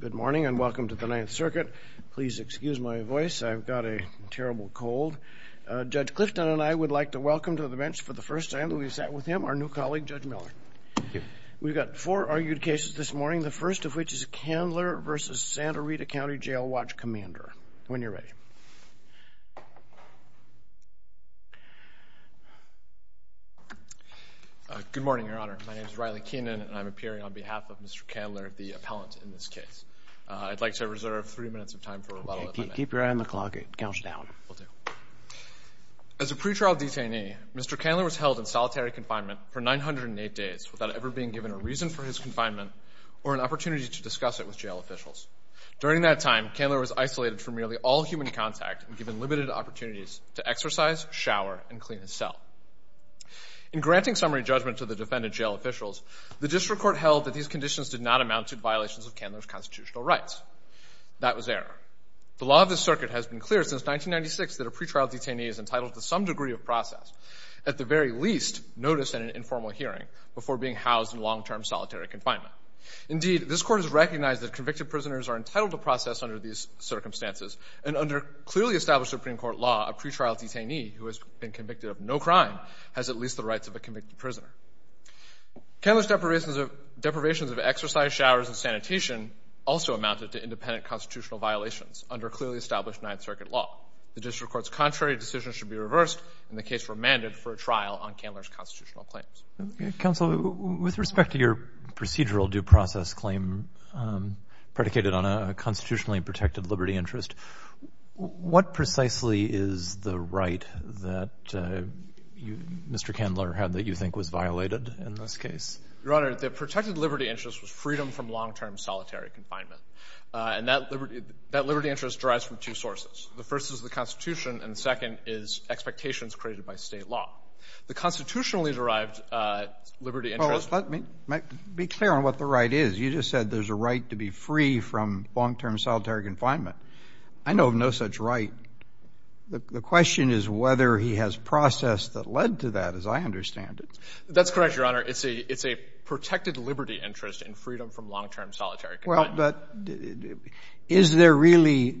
Good morning and welcome to the Ninth Circuit. Please excuse my voice, I've got a terrible cold. Judge Clifton and I would like to welcome to the bench for the first time, we've sat with him, our new colleague, Judge Miller. We've got four argued cases this morning, the first of which is Candler v. Santa Rita Cty Jail Watch Cmdr. When you're ready. Good morning, Your Honor. My name is Riley Keenan and I'm appearing on behalf of Mr. Candler, the appellant in this case. I'd like to reserve three minutes of time for rebuttal if I may. Keep your eye on the clock. It counts down. Will do. As a pretrial detainee, Mr. Candler was held in solitary confinement for 908 days without ever being given a reason for his confinement or an opportunity to discuss it with jail officials. During that time, Candler was isolated from nearly all human contact and given limited opportunities to exercise, shower, and clean his cell. In granting summary judgment to the defendant's jail officials, the district court held that these conditions did not amount to violations of Candler's constitutional rights. That was error. The law of this circuit has been clear since 1996 that a pretrial detainee is entitled to some degree of process, at the very least, notice and an informal hearing, before being housed in long-term solitary confinement. Indeed, this court has recognized that convicted prisoners are entitled to process under these circumstances, and under clearly established Supreme Court law, a pretrial detainee who has been convicted of no crime has at least the rights of a convicted prisoner. Candler's deprivations of exercise, showers, and sanitation also amounted to independent constitutional violations under clearly established Ninth Circuit law. The district court's contrary decision should be reversed, and the case remanded for a trial on Candler's constitutional claims. Counsel, with respect to your procedural due process claim predicated on a constitutionally protected liberty interest, what precisely is the right that you, Mr. Candler, had that you think was violated in this case? Your Honor, the protected liberty interest was freedom from long-term solitary confinement. And that liberty interest derives from two sources. The first is the Constitution, and the second is expectations created by State law. The constitutionally derived liberty interest — Well, let me be clear on what the right is. You just said there's a right to be free from long-term solitary confinement. I know of no such right. The question is whether he has process that led to that, as I understand it. That's correct, Your Honor. It's a protected liberty interest in freedom from long-term solitary confinement. Well, but is there really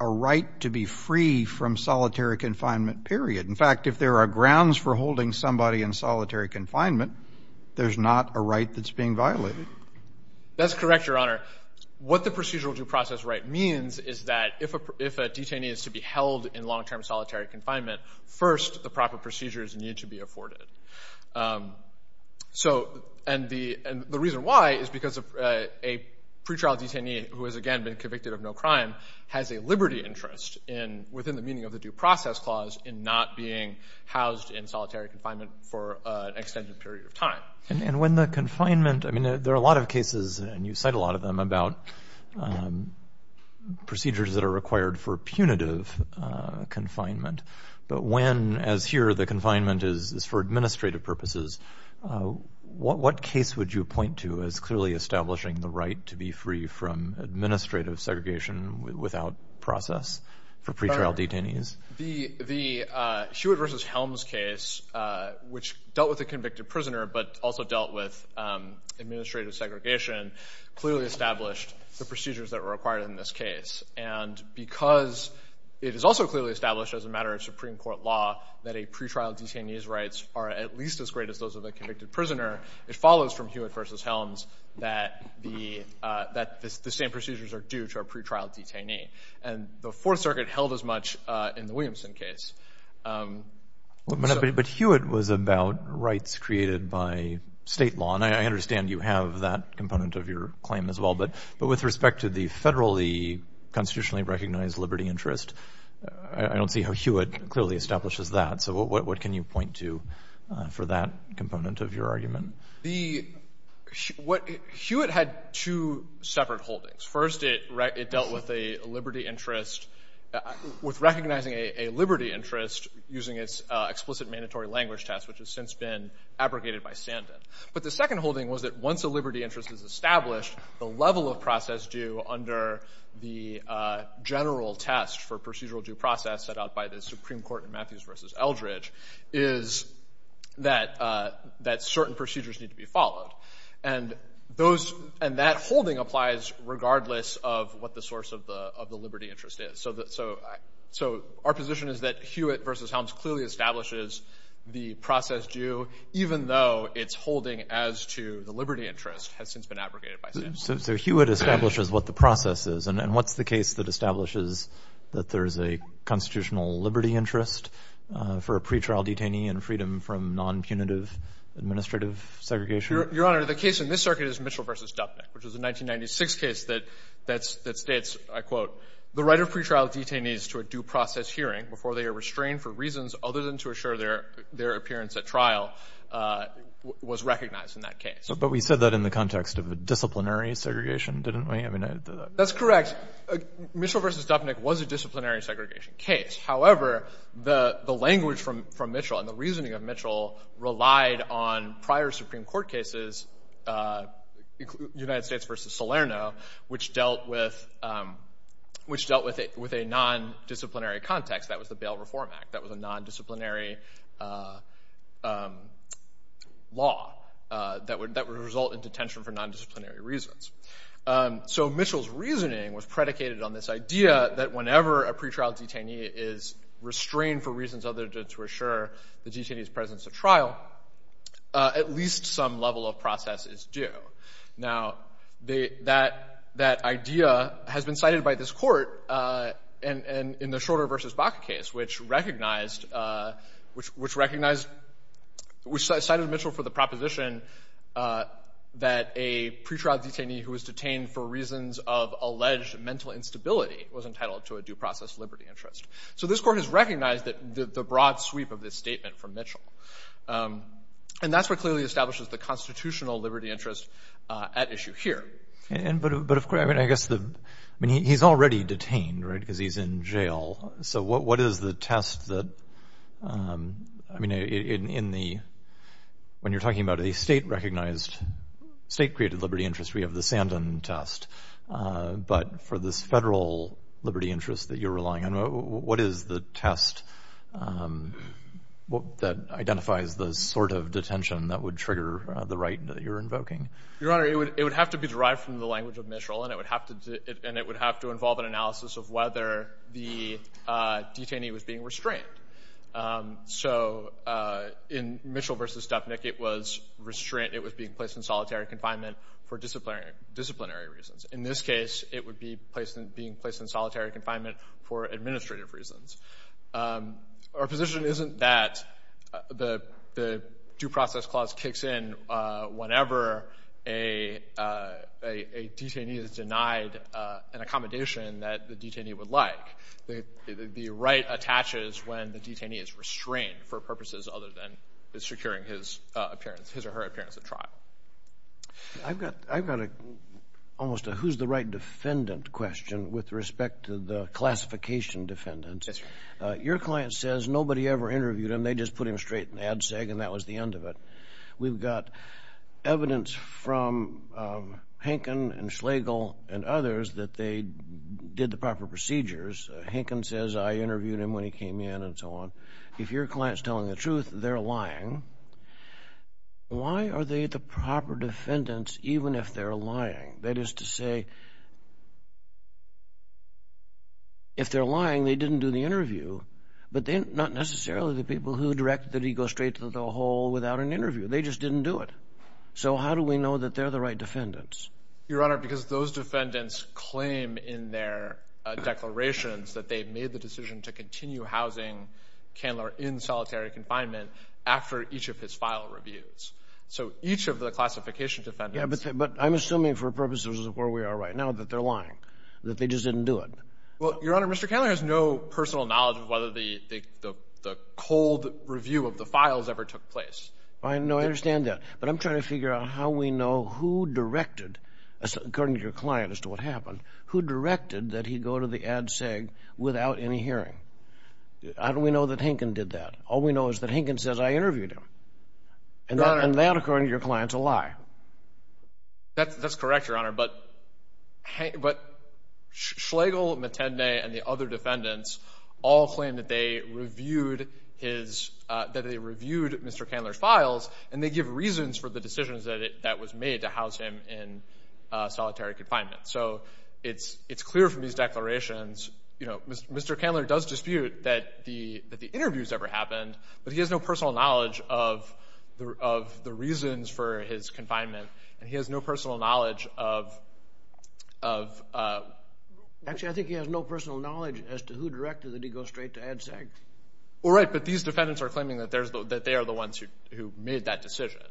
a right to be free from solitary confinement, period? In fact, if there are grounds for holding somebody in solitary confinement, there's not a right that's being violated. That's correct, Your Honor. What the procedural due process right means is that if a detainee is to be held in long-term solitary confinement, first the proper procedures need to be afforded. So — and the reason why is because a pretrial detainee who has, again, been convicted of no crime has a liberty interest in — within the meaning of the due process clause in not And when the confinement — I mean, there are a lot of cases, and you cite a lot of them, about procedures that are required for punitive confinement. But when, as here, the confinement is for administrative purposes, what case would you point to as clearly establishing the right to be free from administrative segregation without process for pretrial detainees? The Hewitt v. Helms case, which dealt with a convicted prisoner but also dealt with administrative segregation, clearly established the procedures that were required in this case. And because it is also clearly established as a matter of Supreme Court law that a pretrial detainee's rights are at least as great as those of a convicted prisoner, it follows from Hewitt v. Helms that the same procedures are due to a pretrial detainee. And the Fourth Circuit held as much in the Williamson case. But Hewitt was about rights created by state law, and I understand you have that component of your claim as well, but with respect to the federally constitutionally recognized liberty interest, I don't see how Hewitt clearly establishes that. So what can you point to for that component of your argument? Hewitt had two separate holdings. First, it dealt with a liberty interest, with recognizing a liberty interest using its explicit mandatory language test, which has since been abrogated by Sandin. But the second holding was that once a liberty interest is established, the level of process due under the general test for procedural due process set out by the Supreme Court in Matthews v. Eldridge is that certain procedures need to be followed. And that holding applies regardless of what the source of the liberty interest is. So our position is that Hewitt v. Helms clearly establishes the process due, even though its holding as to the liberty interest has since been abrogated by Sandin. So Hewitt establishes what the process is, and what's the case that establishes that there is a constitutional liberty interest for a pretrial detainee and freedom from non-punitive administrative segregation? Your Honor, the case in this circuit is Mitchell v. Dupnick, which is a 1996 case that states, I quote, the right of pretrial detainees to a due process hearing before they are restrained for reasons other than to assure their appearance at trial was recognized in that case. But we said that in the context of a disciplinary segregation, didn't we? I mean, I did that. That's correct. Mitchell v. Dupnick was a disciplinary segregation case. However, the language from Mitchell and the reasoning of Mitchell relied on prior Supreme Court cases, United States v. Salerno, which dealt with a non-disciplinary context. That was the Bail Reform Act. That was a non-disciplinary law that would result in detention for non-disciplinary reasons. So Mitchell's reasoning was predicated on this idea that whenever a pretrial detainee is restrained for reasons other than to assure the detainee's presence at trial, at least some level of process is due. Now that idea has been cited by this Court in the Schroeder v. Baca case, which recognized – which cited Mitchell for the proposition that a pretrial detainee who was detained for reasons of alleged mental instability was entitled to a due process liberty interest. So this Court has recognized the broad sweep of this statement from Mitchell. And that's what clearly establishes the constitutional liberty interest at issue here. But of course, I mean, I guess the – I mean, he's already detained, right, because he's in jail. So what is the test that – I mean, in the – when you're talking about a state-recognized state-created liberty interest, we have the Sandin test. But for this federal liberty interest that you're relying on, what is the test that identifies the sort of detention that would trigger the right that you're invoking? Your Honor, it would have to be derived from the language of Mitchell, and it would have to – and it would have to involve an analysis of whether the detainee was being restrained. So in Mitchell v. Dupnick, it was restraint – it was being placed in solitary confinement for disciplinary reasons. In this case, it would be placed in – being placed in solitary confinement for administrative reasons. Our position isn't that the due process clause kicks in whenever a detainee is denied an accommodation that the detainee would like. The right attaches when the detainee is restrained for purposes other than securing his appearance – his or her appearance at trial. I've got – I've got a – almost a who's the right defendant question with respect to the classification defendants. Your client says nobody ever interviewed him. They just put him straight in the ad seg, and that was the end of it. We've got evidence from Hankin and Schlegel and others that they did the proper procedures. Hankin says, I interviewed him when he came in, and so on. If your client's telling the truth, they're lying. Why are they the proper defendants even if they're lying? That is to say, if they're lying, they didn't do the interview, but they're not necessarily the people who directed that he go straight to the hole without an interview. They just didn't do it. So how do we know that they're the right defendants? Your Honor, because those defendants claim in their declarations that they made the decision to continue housing Candler in solitary confinement after each of his file reviews. So each of the classification defendants – Yeah, but I'm assuming for purposes of where we are right now that they're lying, that they just didn't do it. Well, Your Honor, Mr. Candler has no personal knowledge of whether the cold review of the files ever took place. I know, I understand that, but I'm trying to figure out how we know who directed, according to your client as to what happened, who directed that he go to the ad seg without any hearing. How do we know that Hankin did that? All we know is that Hankin says, I interviewed him. And that, according to your client, is a lie. That's correct, Your Honor, but Schlegel, Matende, and the other defendants all claim that they reviewed Mr. Candler's files and they give reasons for the decisions that was made to house him in solitary confinement. So it's clear from these declarations, you know, Mr. Candler does dispute that the interview has ever happened, but he has no personal knowledge of the reasons for his confinement and he has no personal knowledge of... Actually, I think he has no personal knowledge as to who directed that he go straight to ad seg. Well, right, but these defendants are claiming that they are the ones who made that decision.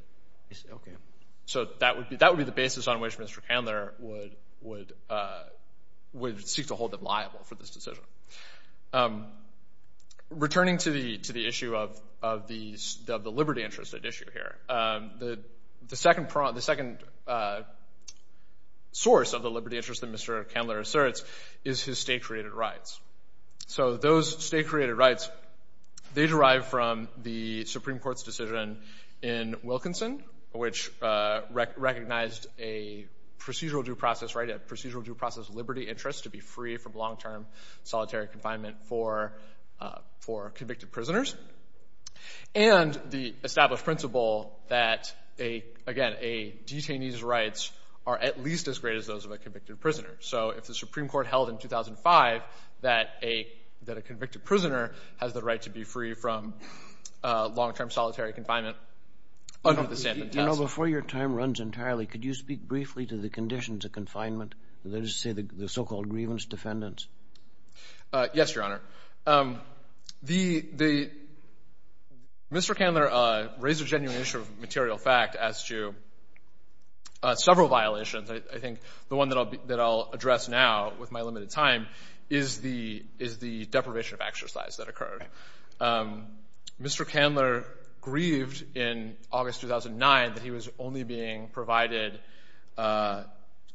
So that would be the basis on which Mr. Candler would seek to hold them liable for this decision. Returning to the issue of the liberty interest at issue here, the second source of the liberty interest that Mr. Candler asserts is his state-created rights. So those state-created rights, they derive from the Supreme Court's decision in Wilkinson which recognized a procedural due process, right, a procedural due process liberty interest to be free from long-term solitary confinement for convicted prisoners. And the established principle that, again, a detainee's rights are at least as great as those of a convicted prisoner. So if the Supreme Court held in 2005 that a convicted prisoner has the right to be free from long-term solitary confinement, I don't think the statement tells it. You know, before your time runs entirely, could you speak briefly to the conditions of confinement? Did they just say the so-called grievance defendants? Yes, Your Honor. The — Mr. Candler raised a genuine issue of material fact as to several violations. I think the one that I'll address now with my limited time is the deprivation of exercise that occurred. Mr. Candler grieved in August 2009 that he was only being provided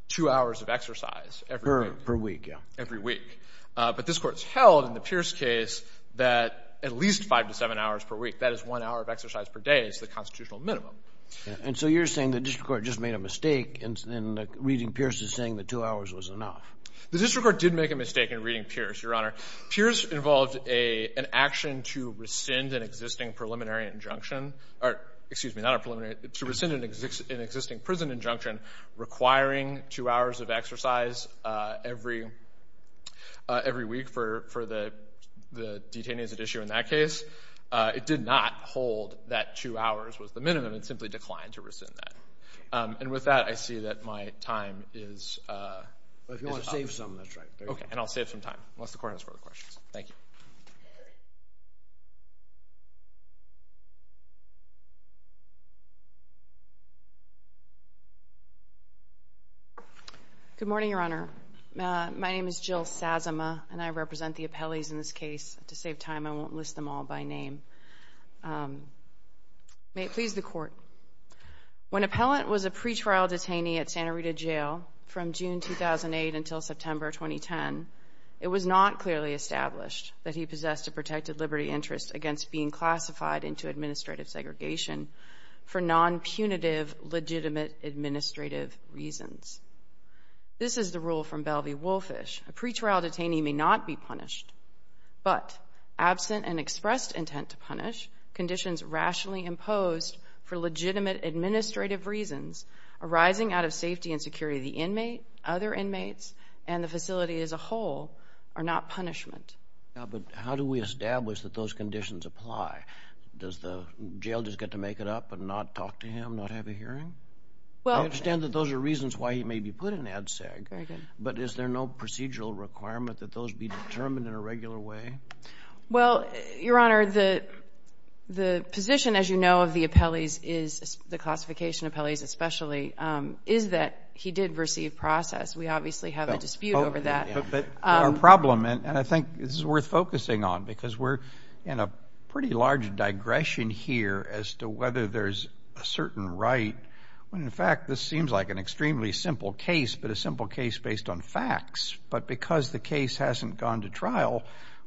two hours of exercise every week. Per week, yeah. Every week. But this Court's held in the Pierce case that at least five to seven hours per week, that is one hour of exercise per day is the constitutional minimum. And so you're saying the district court just made a mistake in reading Pierce's saying that two hours was enough. The district court did make a mistake in reading Pierce, Your Honor. Pierce involved an action to rescind an existing preliminary injunction — or, excuse me, not a preliminary — to rescind an existing prison injunction requiring two hours of exercise every week for the detainees at issue in that case. It did not hold that two hours was the minimum. It simply declined to rescind that. And with that, I see that my time is up. Well, if you want to save some, that's right. Okay. And I'll save some time, unless the Court has further questions. Thank you. Good morning, Your Honor. My name is Jill Sazama, and I represent the appellees in this case. To save time, I won't list them all by name. May it please the Court. When Appellant was a pretrial detainee at Santa Rita Jail from June 2008 until September 2010, it was not clearly established that he possessed a protected liberty interest against being classified into administrative segregation for non-punitive, legitimate administrative reasons. This is the rule from Belvey-Wolfish. A pretrial detainee may not be punished, but absent an expressed intent to punish, conditions rationally imposed for legitimate administrative reasons arising out of safety and security of the inmate, other inmates, and the facility as a whole are not punishment. But how do we establish that those conditions apply? Does the jail just get to make it up and not talk to him, not have a hearing? I understand that those are reasons why he may be put in ADSEG, but is there no procedural requirement that those be determined in a regular way? Well, Your Honor, the position, as you know, of the appellees is, the classification appellees especially, is that he did receive process. We obviously have a dispute over that. But our problem, and I think this is worth focusing on, because we're in a pretty large digression here as to whether there's a certain right when, in fact, this seems like an extremely simple case, but a simple case based on facts. But because the case hasn't gone to trial,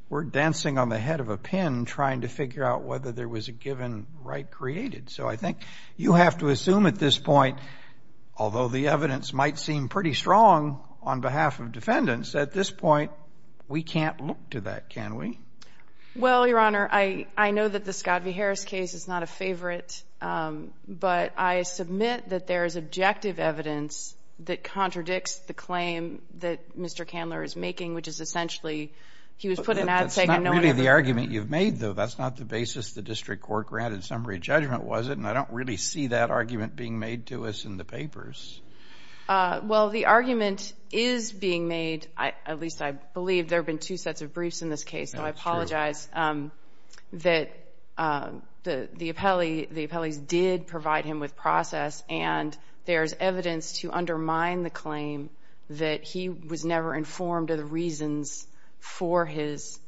we're dancing on the head of a pin trying to figure out whether there was a given right created. So I think you have to assume at this point, although the evidence might seem pretty strong on behalf of defendants, at this point, we can't look to that, can we? Well, Your Honor, I know that the Scott v. Harris case is not a favorite, but I submit that there is objective evidence that contradicts the claim that Mr. Candler is making, which is essentially he was put in that saying and no one else was. But that's not really the argument you've made, though. That's not the basis the district court granted summary judgment, was it? And I don't really see that argument being made to us in the papers. Well, the argument is being made, at least I believe there have been two sets of briefs in this case. That's true. But the argument is that the appellees did provide him with process and there's evidence to undermine the claim that he was never informed of the reasons for his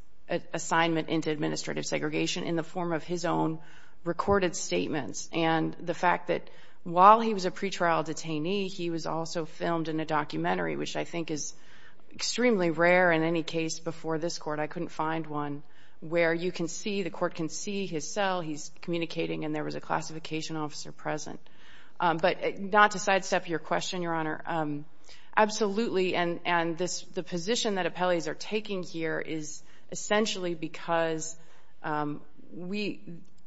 assignment into administrative segregation in the form of his own recorded statements. And the fact that while he was a pretrial detainee, he was also filmed in a documentary, which I think is extremely rare in any case before this Court. I couldn't find one where you can see, the Court can see his cell, he's communicating and there was a classification officer present. But not to sidestep your question, Your Honor, absolutely, and this, the position that appellees are taking here is essentially because we,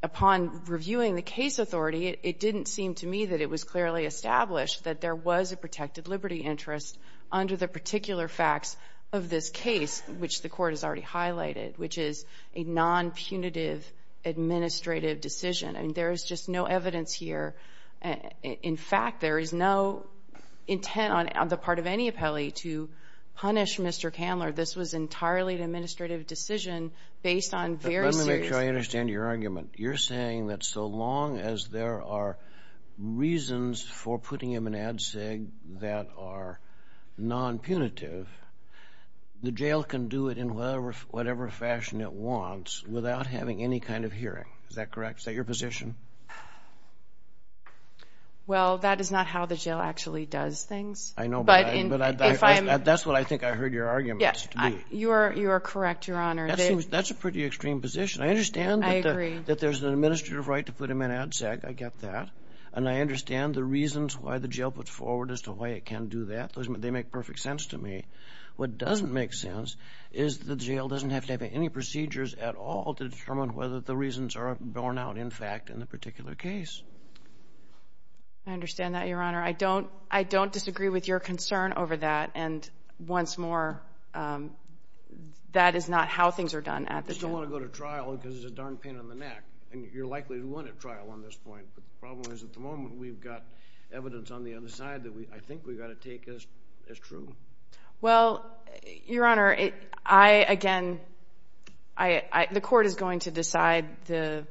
upon reviewing the case authority, it didn't seem to me that it was clearly established that there was a protected liberty interest under the particular facts of this case, which the Court has already highlighted, which is a non-punitive administrative decision. I mean, there is just no evidence here. In fact, there is no intent on the part of any appellee to punish Mr. Candler. This was entirely an administrative decision based on very serious facts. But let me make sure I understand your argument. You're saying that so long as there are reasons for putting him in AD-SIG that are non-punitive, the jail can do it in whatever fashion it wants without having any kind of hearing. Is that correct? Is that your position? Well, that is not how the jail actually does things. I know, but that's what I think I heard your argument to be. You are correct, Your Honor. That's a pretty extreme position. I understand that there's an administrative right to put him in AD-SIG. I get that. And I understand the reasons why the jail puts forward as to why it can do that. They make perfect sense to me. What doesn't make sense is the jail doesn't have to have any procedures at all to determine whether the reasons are borne out, in fact, in the particular case. I understand that, Your Honor. I don't disagree with your concern over that. And once more, that is not how things are done at the jail. I just don't want to go to trial because it's a darn pain in the neck. And you're likely to win at trial on this point. The problem is at the moment, we've got evidence on the other side that I think we've got to take as true. Well, Your Honor, I, again, the court is going to decide the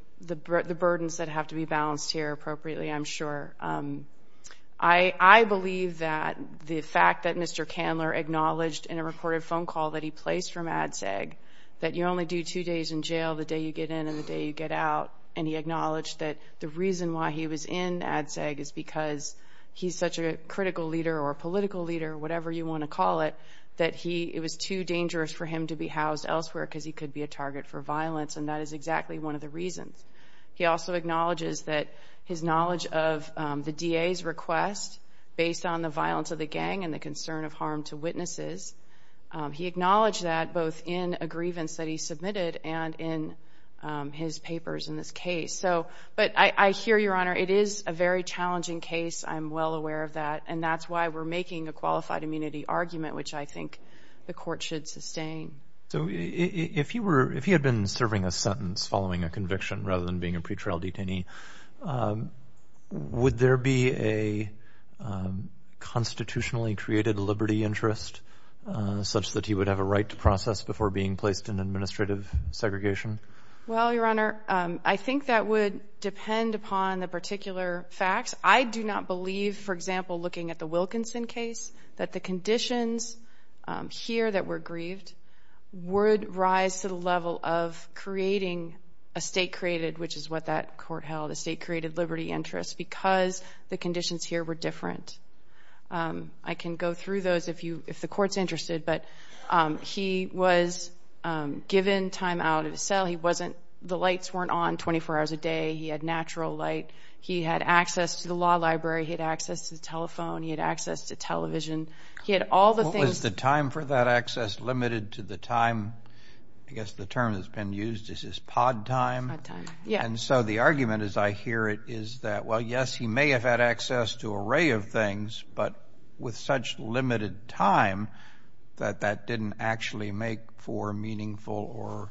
burdens that have to be balanced here appropriately, I'm sure. I believe that the fact that Mr. Candler acknowledged in a recorded phone call that he placed for two days in jail, the day you get in and the day you get out, and he acknowledged that the reason why he was in ADSEG is because he's such a critical leader or a political leader, whatever you want to call it, that he, it was too dangerous for him to be housed elsewhere because he could be a target for violence, and that is exactly one of the reasons. He also acknowledges that his knowledge of the DA's request based on the violence of the gang and the concern of harm to witnesses, he acknowledged that both in a grievance that he submitted and in his papers in this case. So, but I hear, Your Honor, it is a very challenging case. I'm well aware of that, and that's why we're making a qualified immunity argument, which I think the court should sustain. So if he were, if he had been serving a sentence following a conviction rather than being a pretrial detainee, would there be a constitutionally created liberty interest such that he would have a right to process before being placed in administrative segregation? Well, Your Honor, I think that would depend upon the particular facts. I do not believe, for example, looking at the Wilkinson case, that the conditions here that were grieved would rise to the level of creating a state-created, which is what that court held, a state-created liberty interest because the conditions here were different. I can go through those if you, if the court's interested, but he was given time out of his cell, he wasn't, the lights weren't on 24 hours a day, he had natural light, he had access to the law library, he had access to the telephone, he had access to television, he had all the things. Was the time for that access limited to the time, I guess the term that's been used is his pod time? His pod time, yeah. And so the argument, as I hear it, is that, well, yes, he may have had access to an array of things, but with such limited time, that that didn't actually make for meaningful or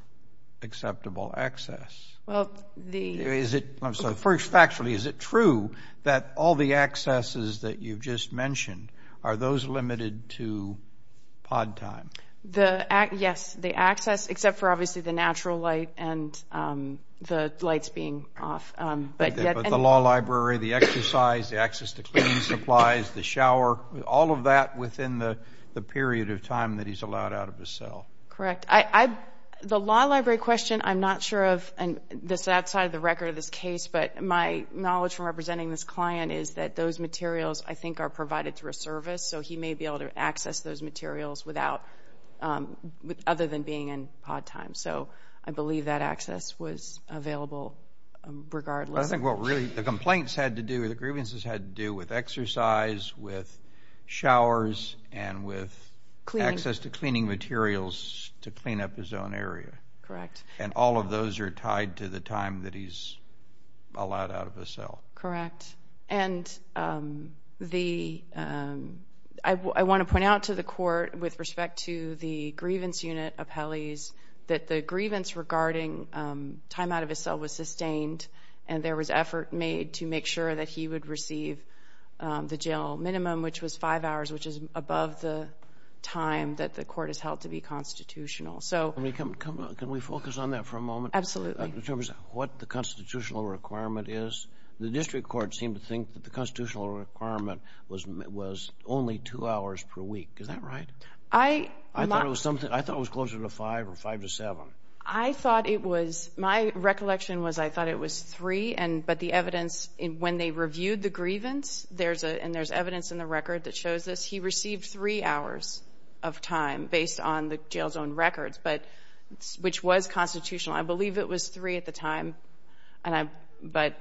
acceptable access. Well, the... Is it, I'm sorry, first factually, is it true that all the accesses that you've just mentioned, are those limited to pod time? The, yes, the access, except for obviously the natural light and the lights being off, but that... But the law library, the exercise, the access to cleaning supplies, the shower, all of that within the period of time that he's allowed out of his cell. Correct. I, the law library question, I'm not sure of, and this is outside of the record of this case, but my knowledge from representing this client is that those materials, I think, are other than being in pod time. So I believe that access was available regardless. I think what really, the complaints had to do, the grievances had to do with exercise, with showers, and with access to cleaning materials to clean up his own area. Correct. And all of those are tied to the time that he's allowed out of his cell. Correct. Correct. And the, I want to point out to the court, with respect to the grievance unit appellees, that the grievance regarding time out of his cell was sustained, and there was effort made to make sure that he would receive the jail minimum, which was five hours, which is above the time that the court has held to be constitutional. So... Can we come, can we focus on that for a moment? Absolutely. In terms of what the constitutional requirement is. The district court seemed to think that the constitutional requirement was only two hours per week. Is that right? I... I thought it was something, I thought it was closer to five, or five to seven. I thought it was, my recollection was I thought it was three, but the evidence, when they reviewed the grievance, and there's evidence in the record that shows this, he received three hours of time based on the jail zone records, but, which was constitutional. I believe it was three at the time, and I, but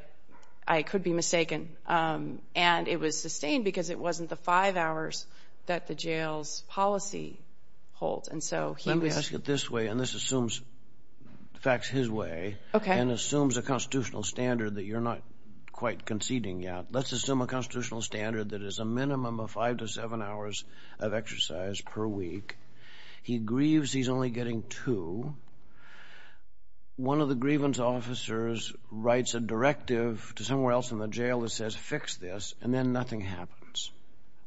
I could be mistaken, and it was sustained because it wasn't the five hours that the jail's policy holds, and so he was... Let me ask it this way, and this assumes, in fact, it's his way, and assumes a constitutional standard that you're not quite conceding yet. Let's assume a constitutional standard that is a minimum of five to seven hours of exercise per week. He grieves he's only getting two. One of the grievance officers writes a directive to somewhere else in the jail that says, fix this, and then nothing happens.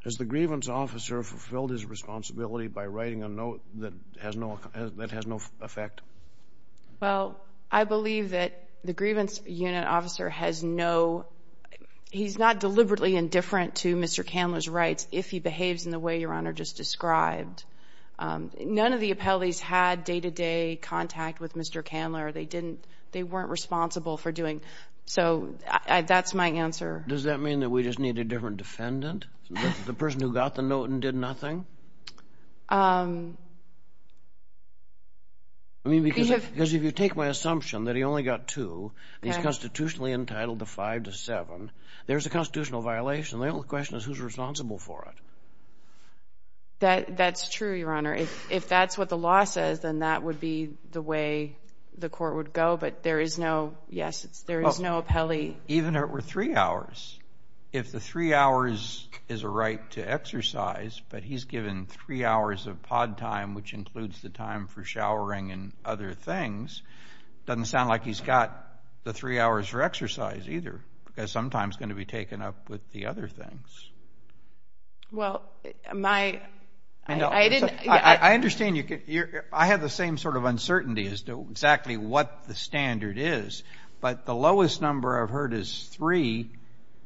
Has the grievance officer fulfilled his responsibility by writing a note that has no effect? Well, I believe that the grievance unit officer has no, he's not deliberately indifferent to Mr. Candler's rights if he behaves in the way Your Honor just described. None of the appellees had day-to-day contact with Mr. Candler. They didn't, they weren't responsible for doing, so that's my answer. Does that mean that we just need a different defendant, the person who got the note and did nothing? I mean, because if you take my assumption that he only got two, and he's constitutionally entitled to five to seven, there's a constitutional violation. The only question is who's responsible for it. That's true, Your Honor. If that's what the law says, then that would be the way the court would go, but there is no, yes, there is no appellee. Even if it were three hours. If the three hours is a right to exercise, but he's given three hours of pod time, which includes the time for showering and other things, doesn't sound like he's got the three hours for exercise either, because sometimes it's going to be taken up with the other things. Well, my, I didn't, I understand you, I have the same sort of uncertainty as to exactly what the standard is, but the lowest number I've heard is three,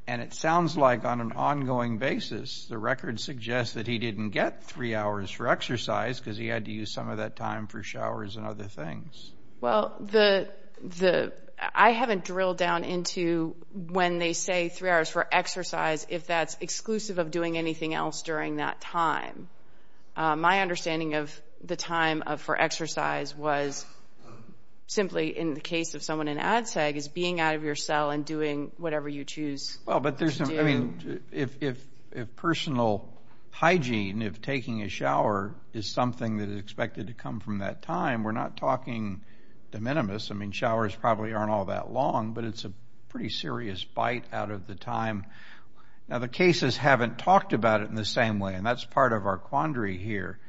and it sounds like on an ongoing basis, the record suggests that he didn't get three hours for exercise because he had to use some of that time for showers and other things. Well, the, I haven't drilled down into when they say three hours for exercise, if that's exclusive of doing anything else during that time. My understanding of the time for exercise was simply in the case of someone in ADSEG is being out of your cell and doing whatever you choose to do. Well, but there's, I mean, if personal hygiene, if taking a shower is something that is expected to come from that time, we're not talking de minimis, I mean, showers probably aren't all that long, but it's a pretty serious bite out of the time. Now, the cases haven't talked about it in the same way, and that's part of our quandary here,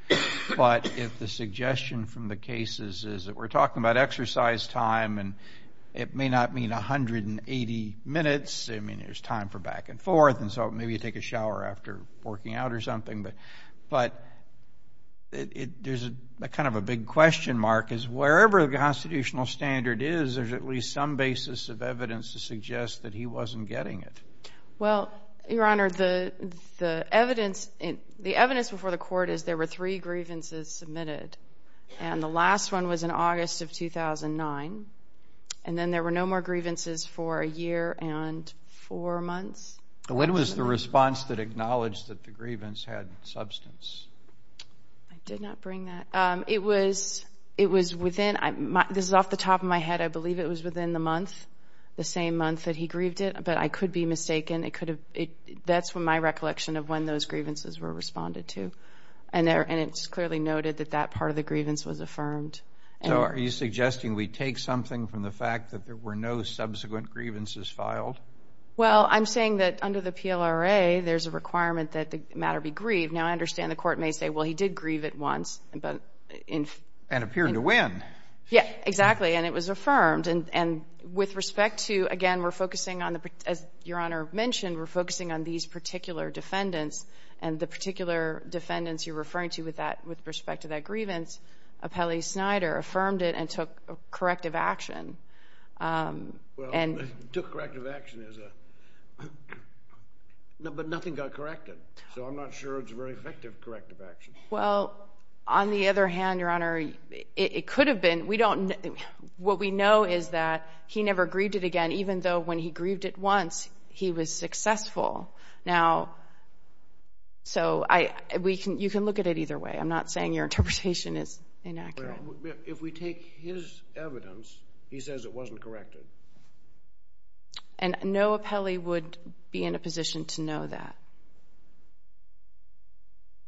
but if the suggestion from the cases is that we're talking about exercise time and it may not mean 180 minutes, I mean, there's time for back and forth, and so maybe you can take a shower after working out or something, but there's a kind of a big question mark is wherever the constitutional standard is, there's at least some basis of evidence to suggest that he wasn't getting it. Well, Your Honor, the evidence before the court is there were three grievances submitted, and the last one was in August of 2009, and then there were no more grievances for a year and four months. When was the response that acknowledged that the grievance had substance? I did not bring that. It was within, this is off the top of my head, I believe it was within the month, the same month that he grieved it, but I could be mistaken. That's my recollection of when those grievances were responded to, and it's clearly noted that that part of the grievance was affirmed. So, are you suggesting we take something from the fact that there were no subsequent grievances filed? Well, I'm saying that under the PLRA, there's a requirement that the matter be grieved. Now, I understand the court may say, well, he did grieve it once. And appeared to win. Yeah, exactly, and it was affirmed, and with respect to, again, we're focusing on, as Your Honor mentioned, we're focusing on these particular defendants, and the particular defendants you're referring to with respect to that grievance, Appellee Snyder affirmed it and took corrective action. Well, took corrective action is a, but nothing got corrected, so I'm not sure it's very effective corrective action. Well, on the other hand, Your Honor, it could have been, we don't, what we know is that he never grieved it again, even though when he grieved it once, he was successful. Now, so I, we can, you can look at it either way, I'm not saying your interpretation is inaccurate. If we take his evidence, he says it wasn't corrected. And no appellee would be in a position to know that.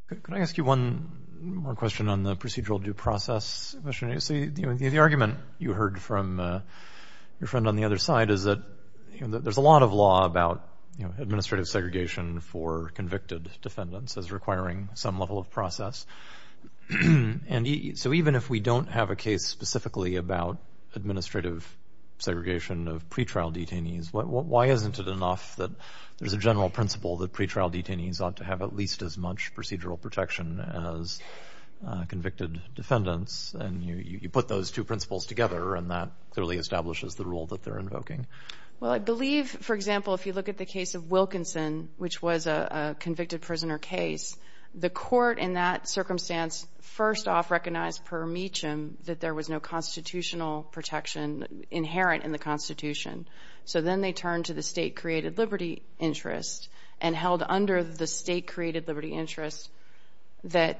Could I ask you one more question on the procedural due process? So, the argument you heard from your friend on the other side is that there's a lot of law about administrative segregation for convicted defendants as requiring some level of process. And so even if we don't have a case specifically about administrative segregation of pretrial detainees, why isn't it enough that there's a general principle that pretrial detainees ought to have at least as much procedural protection as convicted defendants? And you put those two principles together and that clearly establishes the rule that they're invoking. Well, I believe, for example, if you look at the case of Wilkinson, which was a convicted prisoner case, the court in that circumstance first off recognized per metum that there was no constitutional protection inherent in the Constitution. So then they turned to the state-created liberty interest and held under the state-created liberty interest that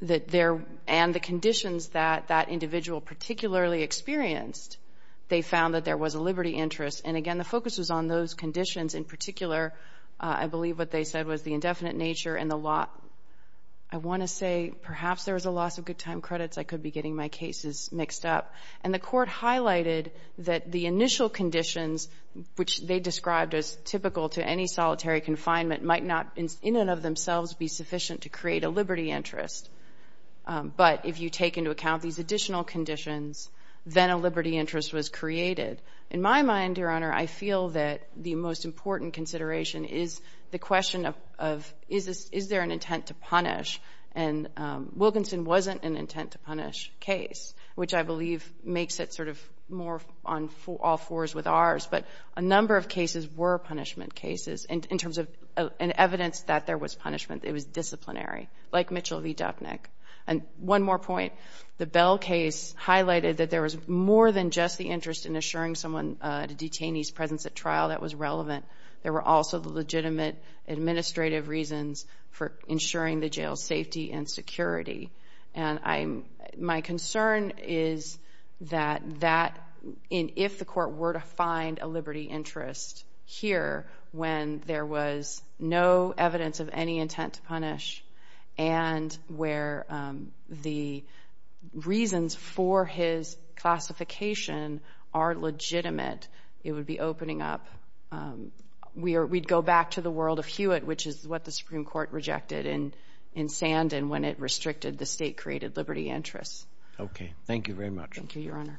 there, and the conditions that that individual particularly experienced, they found that there was a liberty interest. And again, the focus was on those conditions in particular. I believe what they said was the indefinite nature and the law. I want to say perhaps there was a loss of good time credits. I could be getting my cases mixed up. And the court highlighted that the initial conditions, which they described as typical to any solitary confinement, might not in and of themselves be sufficient to create a liberty interest. But if you take into account these additional conditions, then a liberty interest was created. In my mind, Your Honor, I feel that the most important consideration is the question of is there an intent to punish? And Wilkinson wasn't an intent-to-punish case, which I believe makes it sort of more on all fours with ours. But a number of cases were punishment cases in terms of an evidence that there was punishment. It was disciplinary, like Mitchell v. Dupnick. And one more point. The Bell case highlighted that there was more than just the interest in assuring someone at a detainee's presence at trial that was relevant. There were also the legitimate administrative reasons for ensuring the jail's safety and security. And my concern is that if the court were to find a liberty interest here when there was no evidence of any intent to punish and where the reasons for his classification are legitimate, it would be opening up. We'd go back to the world of Hewitt, which is what the Supreme Court rejected in Sandin when it restricted the state-created liberty interest. Okay. Thank you very much. Thank you, Your Honor.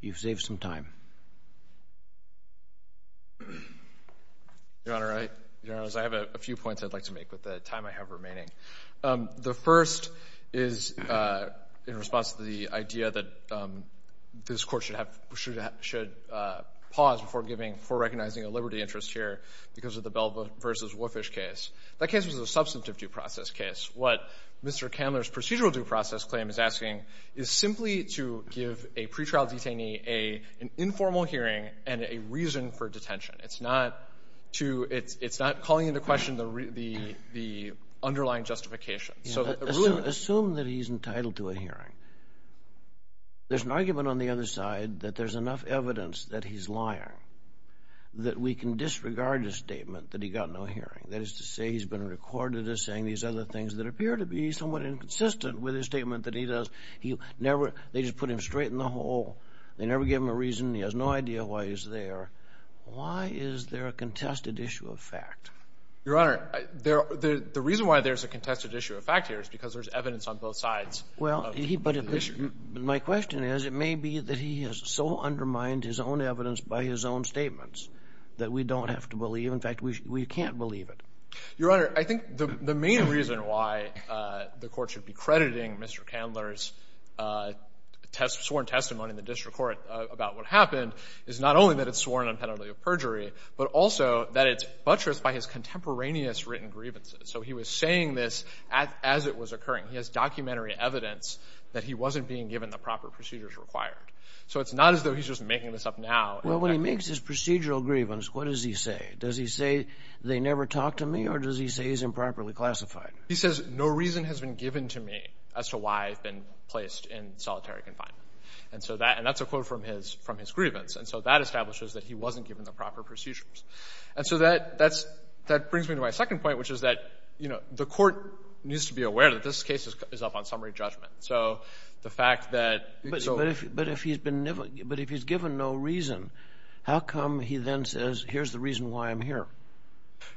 You've saved some time. Your Honor, I have a few points I'd like to make with the time I have remaining. The first is in response to the idea that this Court should pause before recognizing a liberty interest here because of the Bell v. Woofish case. That case was a substantive due process case. What Mr. Candler's procedural due process claim is asking is simply to give a pretrial detainee an informal hearing and a reason for detention. It's not calling into question the underlying justification. Assume that he's entitled to a hearing. There's an argument on the other side that there's enough evidence that he's lying that we can disregard his statement that he got no hearing, that is to say he's been recorded as saying these other things that appear to be somewhat inconsistent with his statement that he does. They just put him straight in the hole. They never give him a reason. He has no idea why he's there. Why is there a contested issue of fact? Your Honor, the reason why there's a contested issue of fact here is because there's evidence on both sides of the issue. My question is it may be that he has so undermined his own evidence by his own statements that we don't have to believe. In fact, we can't believe it. Your Honor, I think the main reason why the Court should be crediting Mr. Candler's sworn testimony in the district court about what happened is not only that it's sworn on penalty of perjury, but also that it's buttressed by his contemporaneous written grievances. So he was saying this as it was occurring. He has documentary evidence that he wasn't being given the proper procedures required. So it's not as though he's just making this up now. Well, when he makes his procedural grievance, what does he say? Does he say, they never talked to me, or does he say he's improperly classified? He says, no reason has been given to me as to why I've been placed in solitary confinement. And so that's a quote from his grievance. And so that establishes that he wasn't given the proper procedures. And so that brings me to my second point, which is that the Court needs to be aware that this case is up on summary judgment. So the fact that it's over. But if he's given no reason, how come he then says, here's the reason why I'm here?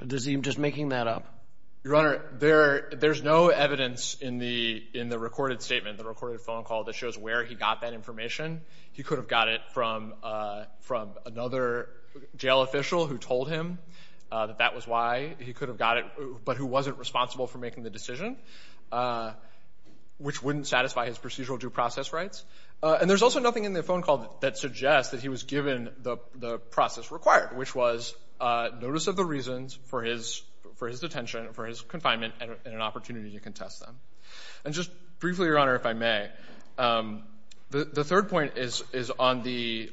Is he just making that up? Your Honor, there's no evidence in the recorded statement, the recorded phone call, that shows where he got that information. He could have got it from another jail official who told him that that was why he could have got it, but who wasn't responsible for making the decision, which wouldn't satisfy his procedural due process rights. And there's also nothing in the phone call that suggests that he was given the process required, which was notice of the reasons for his detention, for his confinement, and an opportunity to contest them. And just briefly, Your Honor, if I may, the third point is on the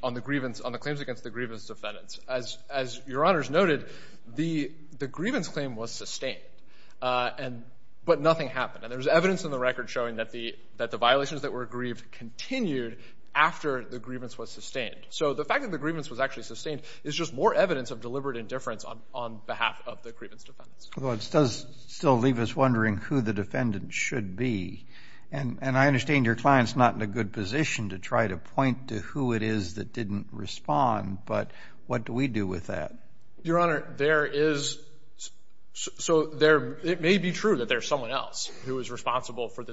claims against the grievance defendants. As Your Honors noted, the grievance claim was sustained, but nothing happened. And there's evidence in the record showing that the violations that were grieved continued after the grievance was sustained. So the fact that the grievance was actually sustained is just more evidence of deliberate indifference on behalf of the grievance defendants. Well, it does still leave us wondering who the defendant should be. And I understand your client's not in a good position to try to point to who it is that didn't respond, but what do we do with that? Your Honor, there is, so it may be true that there's someone else who is But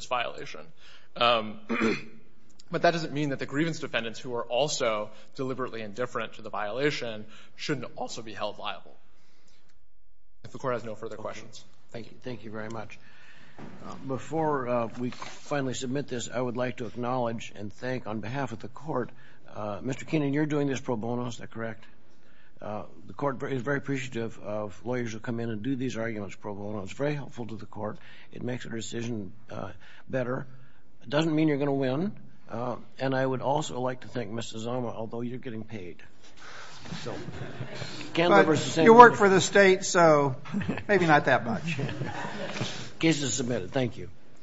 that doesn't mean that the grievance defendants who are also deliberately indifferent to the violation shouldn't also be held liable, if the court has no further questions. Thank you. Thank you very much. Before we finally submit this, I would like to acknowledge and thank, on behalf of the court, Mr. Keenan, you're doing this pro bono, is that correct? The court is very appreciative of lawyers who come in and do these arguments pro bono. It's very helpful to the court. It makes a decision better. It doesn't mean you're going to win. And I would also like to thank Mr. Zama, although you're getting paid. You work for the state, so maybe not that much. Case is submitted. Thank you.